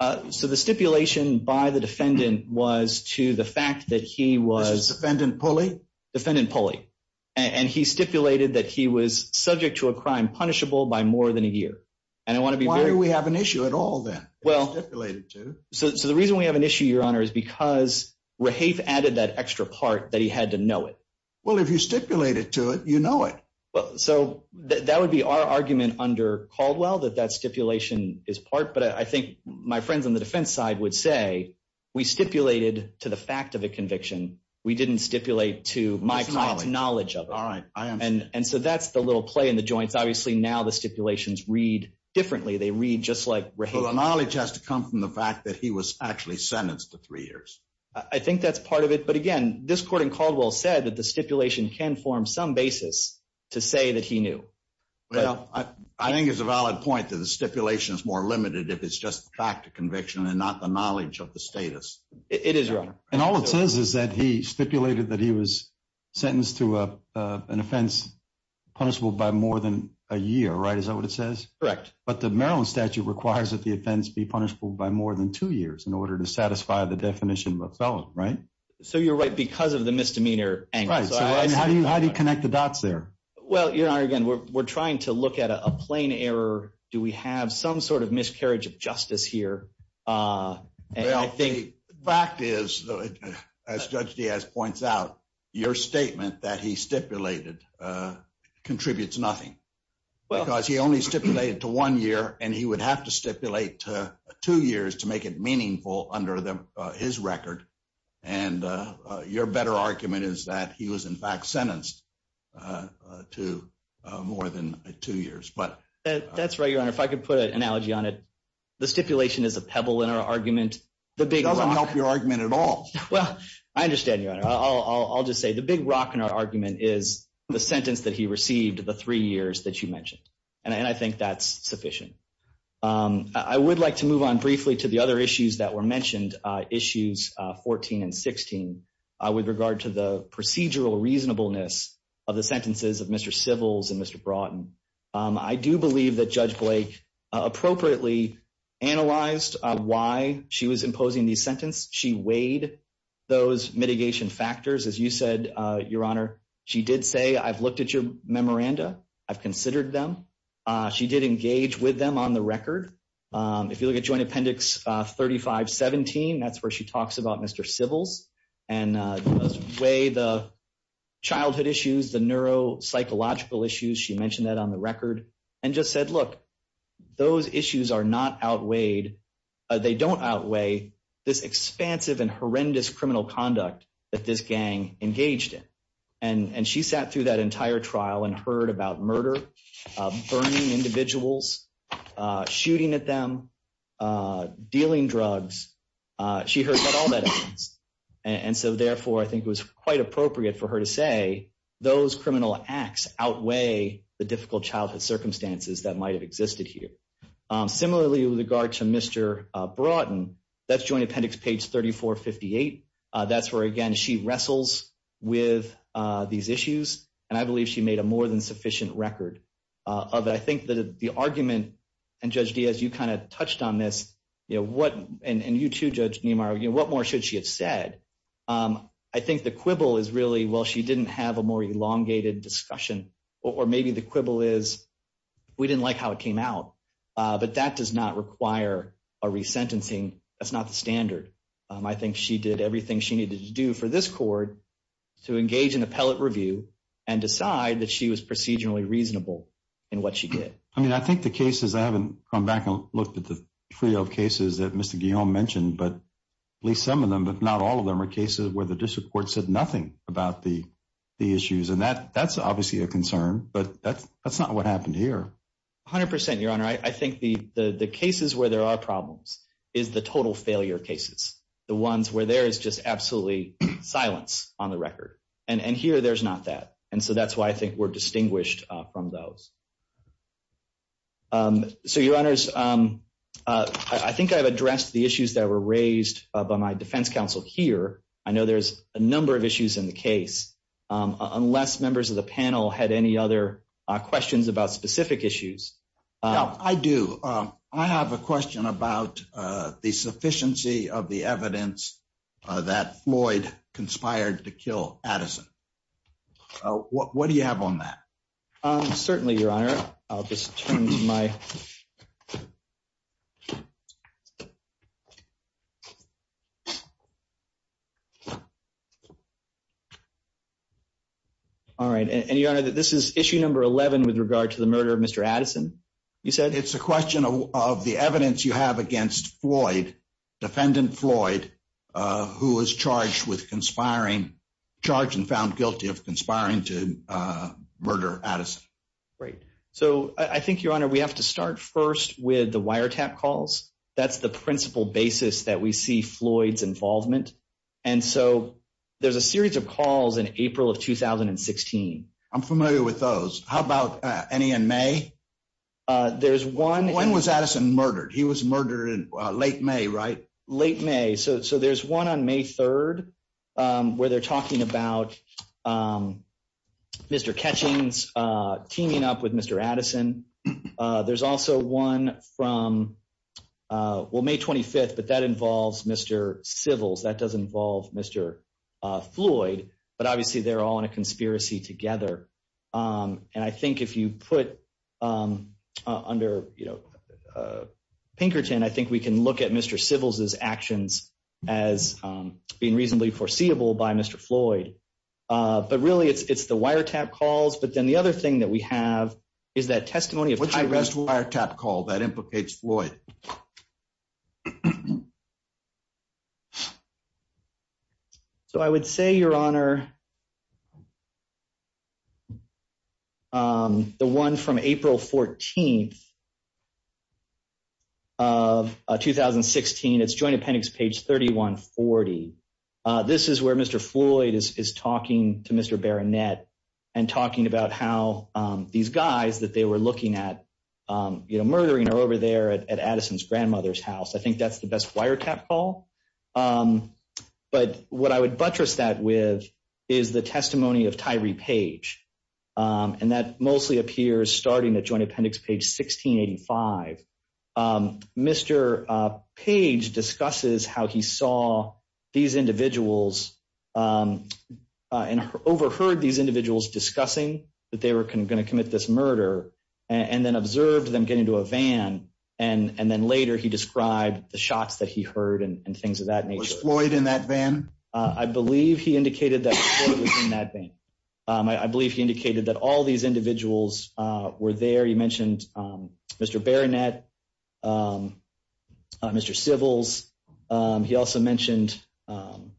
Uh, so the stipulation by the defendant was to the fact that he was defendant pulley, defendant pulley, and he stipulated that he was subject to a crime punishable by more than a year. And I want to be, why do we have an issue at all then? Well, so, so the reason we have an issue, your honor is because we're half added that extra part that he had to know it well, if you stipulate it to it, you know it. Well, so that would be our argument under Caldwell that that stipulation is part. But I think my friends on the defense side would say we stipulated to the fact of a conviction. We didn't stipulate to my knowledge of it. And so that's the little play in the joints. Obviously now the stipulations read differently. They read just like the knowledge has to come from the fact that he was actually sentenced to three years. I think that's part of it. But again, this court in Caldwell said that the stipulation can form some basis to say that he knew. Well, I think it's a valid point that the stipulation is more limited. If it's just the fact of conviction and not the knowledge of the status. It is wrong. And all it says is that he stipulated that he was sentenced to a, uh, an offense punishable by more than a year, right? Is that what it says? Correct. But the Maryland statute requires that the offense be punishable by more than two years in order to satisfy the definition of a felon, right? So you're right. Because of the misdemeanor angle, how do you, how do you connect the dots there? Well, you're not, again, we're, we're trying to look at a plain error. Do we have some sort of miscarriage of justice here? Uh, fact is as judge Diaz points out your statement that he stipulated, uh, contributes nothing because he only stipulated to one year and he would have to stipulate, uh, two years to make it meaningful under the, uh, his record. And, uh, uh, your better argument is that he was in fact sentenced, uh, uh, to, uh, more than two years. But that's right. Your honor, if I could put an analogy on it, the stipulation is a pebble in our argument, the big argument at all. Well, I understand your honor. I'll, I'll, I'll just say the big rock in our argument is the sentence that he received the three years that you mentioned. And I think that's sufficient. Um, I would like to move on briefly to the other issues that were mentioned, uh, issues, uh, 14 and 16, uh, with regard to the procedural reasonableness of the sentences of Mr. Sybils and Mr. Broughton. Um, I do believe that judge Blake appropriately analyzed, uh, why she was imposing these sentences. She weighed those mitigation factors. As you said, uh, your honor, she did say, I've looked at your memoranda. I've considered them. Uh, she did engage with them on the record. Um, if you look at joint appendix, uh, 35, 17, that's where she talks about Mr. Sybils and, uh, weigh the childhood issues, the neuropsychological issues. She mentioned that on the record and just said, look, those issues are not outweighed. They don't outweigh this expansive and horrendous criminal conduct that this gang engaged in. And, and she sat through that entire trial and heard about murder, burning individuals, uh, shooting at them, uh, dealing drugs. Uh, she heard about all that. And so therefore I think it was quite appropriate for her to say those criminal acts outweigh the difficult childhood circumstances that might have existed here. Um, similarly with regard to Mr, uh, Broughton that's joint appendix, page 3458. Uh, that's where, again, she wrestles with, uh, these issues and I believe she made a more than sufficient record, uh, of, I think that the argument and judge Diaz, you kind of touched on this, you know, what, and you too, judge Neymar, you know, what more should she have said? Um, I think the quibble is really, well, she didn't have a more elongated discussion, or maybe the quibble is we didn't like how it came out. Uh, but that does not require a resentencing. That's not the standard. Um, I think she did everything she needed to do for this court to engage in appellate review and decide that she was procedurally reasonable in what she did. I mean, I think the cases, I haven't come back and looked at the trio of cases that Mr. Guillaume mentioned, but at least some of them, but not all of them are cases where the district court said nothing about the, the issues and that that's obviously a concern, but that's, that's not what happened here. A hundred percent, your honor. I think the, the, the cases where there are problems is the total failure cases, the ones where there is just absolutely silence on the record and here there's not that, and so that's why I think we're distinguished from those. Um, so your honors, um, uh, I think I've addressed the issues that were raised by my defense counsel here. I know there's a number of issues in the case, um, unless members of the panel had any other questions about specific issues. Um, I do, um, I have a question about, uh, the sufficiency of the evidence, uh, that Floyd conspired to kill Addison. Uh, what, what do you have on that? Um, certainly your honor, I'll just turn to my. All right. And your honor, this is issue number 11 with regard to the murder of Mr. Addison. You said it's a question of, of the evidence you have against Floyd, defendant Floyd, uh, who was charged with conspiring charge and found guilty of conspiring to, uh, murder Addison. Great. So I think your honor, we have to start first with the wiretap calls. That's the principal basis that we see Floyd's involvement. And so there's a series of calls in April of 2016. I'm familiar with those. How about any in May? Uh, there's one. When was Addison murdered? He was murdered in late May, right? Late May. So, so there's one on May 3rd, um, where they're talking about, um, Mr. Catchings, uh, teaming up with Mr. Addison. Uh, there's also one from, uh, well, May 25th, but that involves Mr. Sybil's that does involve Mr. Uh, Floyd, but obviously they're all in a conspiracy together. Um, and I think if you put, um, uh, under, you know, uh, Pinkerton, I think we can look at Mr. Sybil's his actions as, um, being reasonably foreseeable by Mr. Floyd. Uh, but really it's, it's the wiretap calls. But then the other thing that we have is that testimony of wiretap call that implicates Floyd. So I would say your honor, um, the one from April 14th of 2016, it's joint appendix page 3140. Uh, this is where Mr. Floyd is, is talking to Mr. Baronet and talking about how, um, these guys that they were looking at, um, you know, murdering are over there at Addison's grandmother's house. I think that's the best wiretap call. Um, but what I would buttress that with is the testimony of Tyree Page. Um, and that mostly appears starting at joint appendix page 1685. Um, Mr. Uh, Page discusses how he saw these individuals, um, uh, and overheard these individuals discussing that they were going to commit this murder and then observed them getting into a van. And then later he described the shots that he heard and things of that nature. Was Floyd in that van? Uh, I believe he indicated that Floyd was in that van. Um, I believe he indicated that all these individuals, uh, were there. You mentioned, um, Mr. Baronet, um, uh, Mr. Sybils. Um, he also mentioned, um,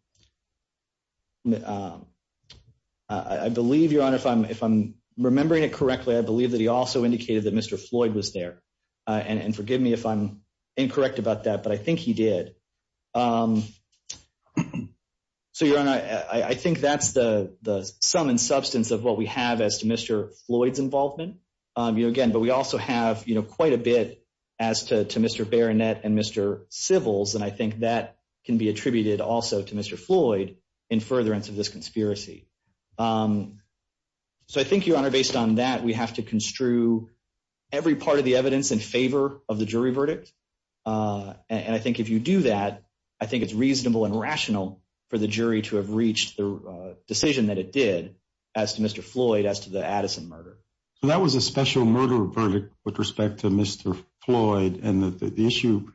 uh, I believe your honor, if I'm, if I'm remembering it correctly, I believe that he also indicated that Mr. Floyd was there. Uh, and, and forgive me if I'm incorrect about that, but I think he did. Um, so your honor, I, I think that's the, the sum and substance of what we have as to Mr. Floyd's involvement. Um, you know, again, but we also have, you know, quite a bit as to, to Mr. Baronet and Mr. Sybils. And I think that can be attributed also to Mr. Floyd in furtherance of this conspiracy. Um, so I think your honor, based on that, we have to construe every part of the evidence in favor of the jury verdict. Uh, and I think if you do that, I think it's reasonable and rational for the jury to have reached the decision that it did as to Mr. Floyd, as to the Addison murder. So that was a special murder verdict with respect to Mr. Floyd. And the issue,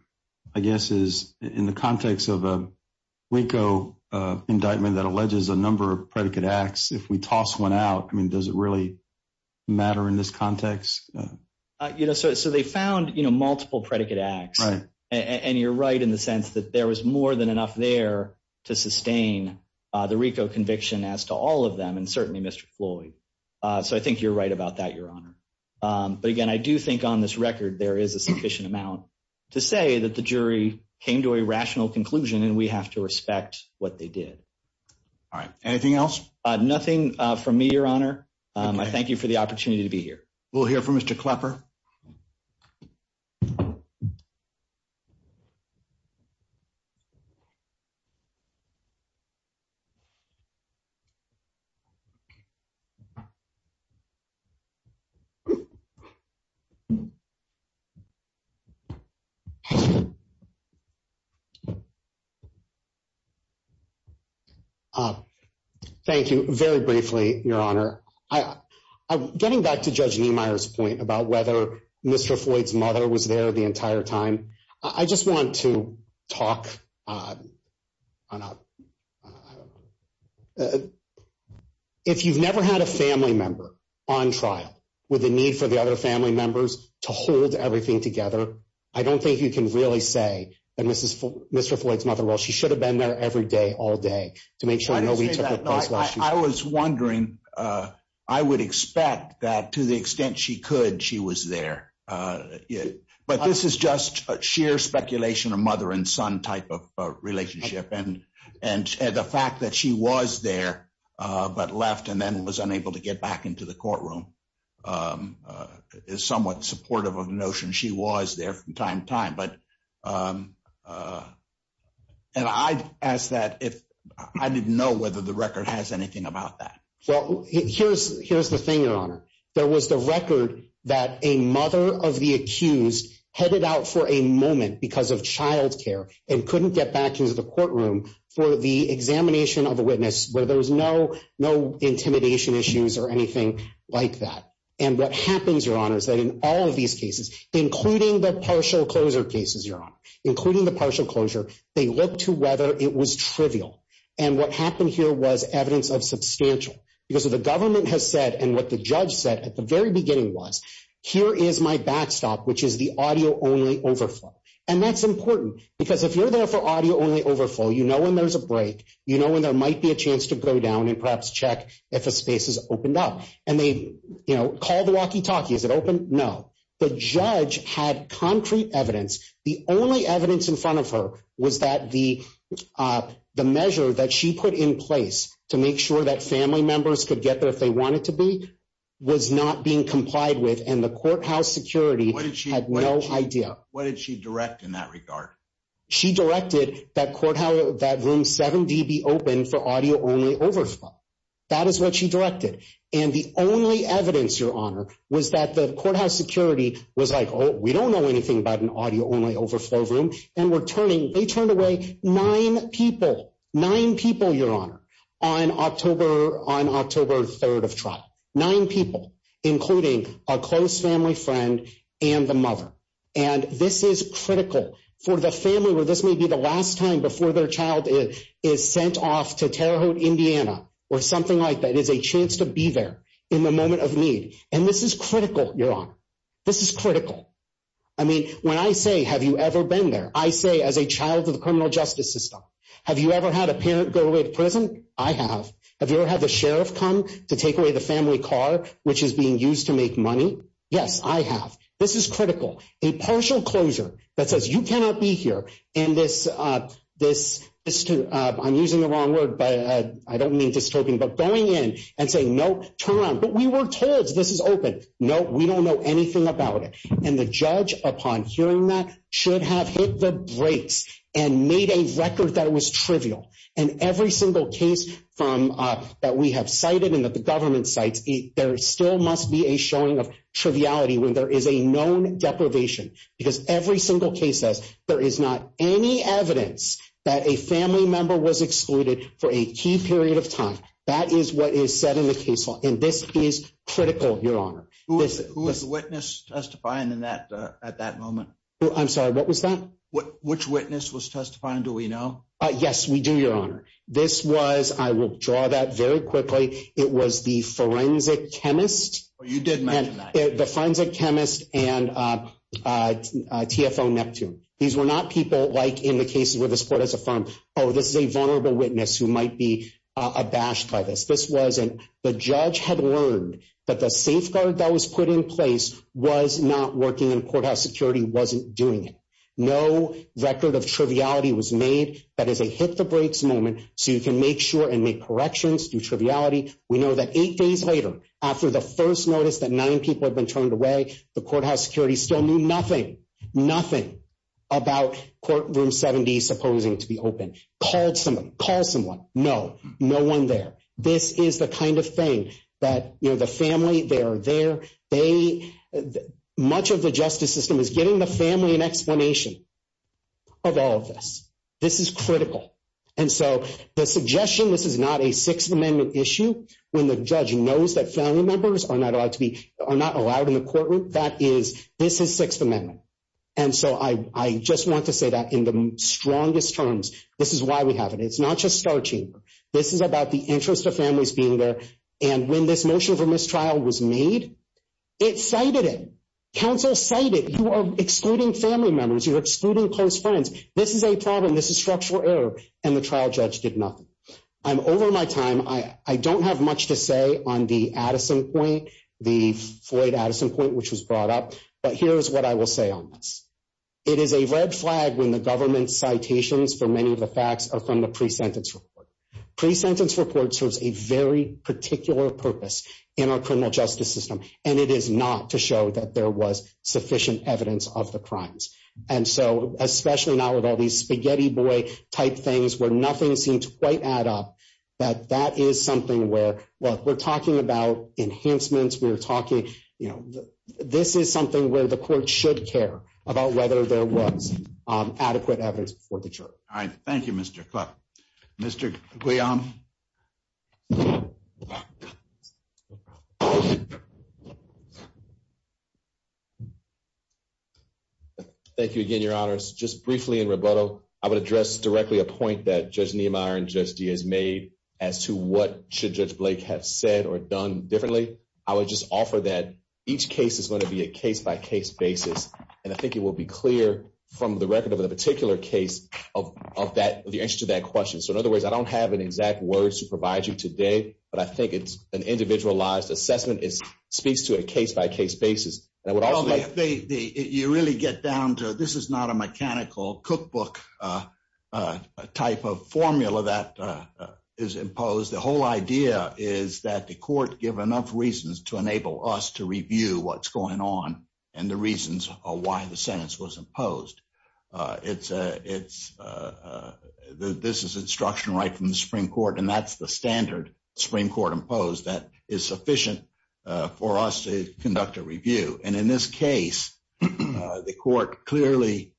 I guess, is in the context of a RICO, uh, indictment that alleges a number of predicate acts. If we toss one out, I mean, does it really matter in this context? Uh, you know, so, so they found, you know, multiple predicate acts and you're right in the sense that there was more than enough there to sustain, uh, the RICO conviction as to all of them and certainly Mr. Floyd. Uh, so I think you're right about that, your honor. Um, but again, I do think on this record, there is a sufficient amount to say that the jury came to a rational conclusion and we have to respect what they did. All right. Anything else? Uh, nothing, uh, from me, your honor. Um, I thank you for the opportunity to be here. We'll hear from Mr. Klepper. Uh, thank you very briefly, your honor. I, I'm getting back to judge Niemeyer's point about whether Mr. Floyd's mother was there the entire time. I just want to talk, uh, on a, uh, if you've never had a family member on trial with the need for the other family members to hold everything together, I don't think you can really say that Mrs. Floyd, Mr. Floyd's mother, while she should have been there every day, all day to make sure that I was wondering, uh, I would expect that to the extent she could, she was there, uh, but this is just sheer speculation of mother and son type of relationship and, and the fact that she was there, uh, but left and then was unable to get back into the courtroom. Um, uh, is somewhat supportive of notion. She was there from time to time, but, um, uh, and I asked that if I didn't know whether the record has anything about that. Well, here's, here's the thing, your honor, there was the record that a mother of the accused headed out for a moment because of childcare and couldn't get back into the courtroom for the examination of a witness where there was no, no intimidation issues or anything like that. And what happens, your honor, is that in all of these cases, including the partial closure cases, your honor, including the partial closure, they happened here was evidence of substantial because of the government has said, and what the judge said at the very beginning was here is my backstop, which is the audio only overflow. And that's important because if you're there for audio only overflow, you know, when there's a break, you know, when there might be a chance to go down and perhaps check if a space has opened up and they, you know, call the walkie talkie, is it open? No, the judge had concrete evidence. The only evidence in front of her was that the, uh, the measure that she put in place to make sure that family members could get there if they want it to be, was not being complied with. And the courthouse security had no idea. What did she direct in that regard? She directed that courthouse, that room seven DB open for audio only overflow. That is what she directed. And the only evidence your honor was that the courthouse security was like, we don't know anything about an audio only overflow room and we're turning, they turned away nine people, nine people, your honor on October, on October 3rd of trial, nine people, including a close family friend and the mother. And this is critical for the family where this may be the last time before their child is sent off to Terre Haute, Indiana, or something like that is a chance to be there in the moment of need. And this is critical, your honor, this is critical. I mean, when I say, have you ever been there? I say, as a child of the criminal justice system, have you ever had a parent go away to prison? I have. Have you ever had the sheriff come to take away the family car, which is being used to make money? Yes, I have. This is critical. A partial closure that says you cannot be here. And this, uh, this is to, uh, I'm using the wrong word, but, uh, I don't mean dystopian, but going in and saying, no, turn around. But we were told this is open. No, we don't know anything about it. And the judge, upon hearing that, should have hit the brakes and made a record that was trivial. And every single case from, uh, that we have cited and that the government cites, there still must be a showing of triviality when there is a known deprivation, because every single case says there is not any evidence that a family member was excluded for a key period of time. That is what is said in the case law. And this is critical, your honor. Who was the witness testifying in that, uh, at that moment? I'm sorry. What was that? What, which witness was testifying? Do we know? Uh, yes, we do, your honor. This was, I will draw that very quickly. It was the forensic chemist. You did mention that. The forensic chemist and, uh, uh, TFO Neptune. These were not people like in the cases where the support has affirmed, oh, this is a vulnerable witness who might be, uh, abashed by this. This wasn't the judge had learned that the safeguard that was put in place was not working in courthouse security. Wasn't doing it. No record of triviality was made. That is a hit the brakes moment. So you can make sure and make corrections, do triviality. We know that eight days later, after the first notice that nine people had been turned away, the courthouse security still knew nothing, nothing about courtroom 70, supposing to be open, called someone, call someone. No, no one there. This is the kind of thing that, you know, the family, they are there. They, much of the justice system is giving the family an explanation of all of this. This is critical. And so the suggestion, this is not a sixth amendment issue. When the judge knows that family members are not allowed to be, are not allowed in the courtroom. That is, this is sixth amendment. And so I, I just want to say that in the strongest terms, this is why we have it. It's not just star chamber. This is about the interest of families being there. And when this motion for mistrial was made, it cited it. Counsel cited, you are excluding family members. You're excluding close friends. This is a problem. This is structural error. And the trial judge did nothing. I'm over my time. I don't have much to say on the Addison point, the Floyd Addison point, which was brought up, but here's what I will say on this. It is a red flag when the government citations for many of the facts are from the pre-sentence report. Pre-sentence report serves a very particular purpose in our criminal justice system, and it is not to show that there was sufficient evidence of the crimes. And so, especially now with all these spaghetti boy type things where nothing seems quite add up, that that is something where, well, we're talking about enhancements, we were talking, you know, this is something where the court should care about whether there was adequate evidence before the jury. All right. Thank you, Mr. Mr. Thank you again, your honors. Just briefly in rebuttal, I would address directly a point that judge Niemeyer and Judge Dee has made as to what should judge Blake have said or done differently. I would just offer that each case is going to be a case by case basis. And I think it will be clear from the record of the particular case of, of the answer to that question. So in other words, I don't have an exact word to provide you today, but I think it's an individualized assessment. It speaks to a case by case basis. And I would also like- Well, you really get down to, this is not a mechanical cookbook type of formula that is imposed. The whole idea is that the court give enough reasons to enable us to review what's going on and the reasons why the sentence was imposed. It's a, it's a, this is instruction right from the Supreme Court and that's the standard Supreme Court imposed that is sufficient for us to conduct a review. And in this case, the court clearly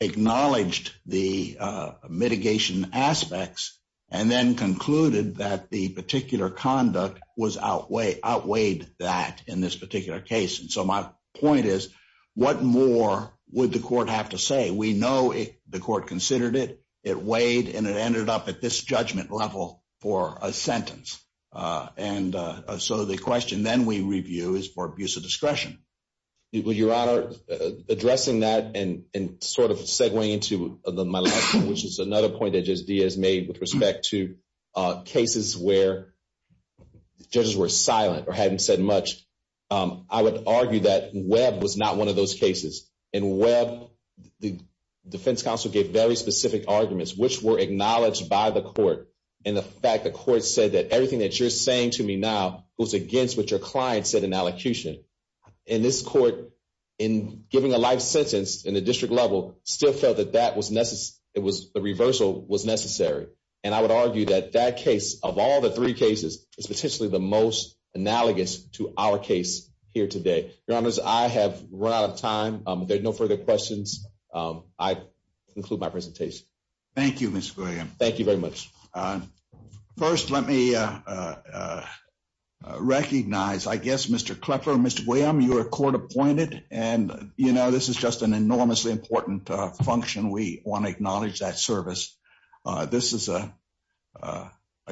acknowledged the mitigation aspects and then concluded that the particular conduct was outweigh, outweighed that in this particular case. And so my point is, what more would the court have to say? We know the court considered it, it weighed and it ended up at this judgment level for a sentence. And so the question then we review is for abuse of discretion. Well, Your Honor, addressing that and sort of segwaying into my last point, which is another point that Judge Diaz made with respect to cases where judges were silent or hadn't said much, I would argue that Webb was not one of those cases and Webb, the defense counsel gave very specific arguments, which were acknowledged by the court. And the fact the court said that everything that you're saying to me now goes against what your client said in allocution. And this court in giving a life sentence in the district level still felt that that was necessary. It was the reversal was necessary. And I would argue that that case of all the three cases is potentially the most analogous to our case here today. Your Honor, I have run out of time. There's no further questions. I conclude my presentation. Thank you, Mr. William. Thank you very much. First, let me recognize, I guess, Mr. Clefler, Mr. William, you are court appointed and, you know, this is just an enormously important function. We want to acknowledge that service. This is a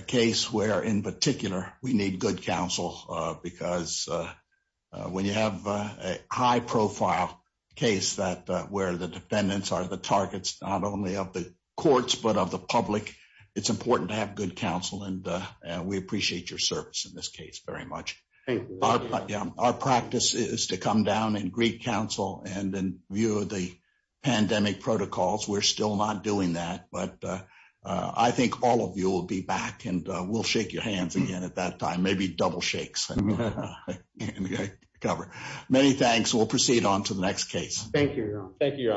case where, in particular, we need good counsel because when you have a high profile case that where the defendants are the targets, not only of the courts, but of the public, it's important to have good counsel. And we appreciate your service in this case very much. Our practice is to come down and greet counsel and then view the pandemic protocols. We're still not doing that, but I think all of you will be back and we'll shake your hands again at that time. Maybe double shakes and cover. Many thanks. We'll proceed on to the next case. Thank you, Your Honor.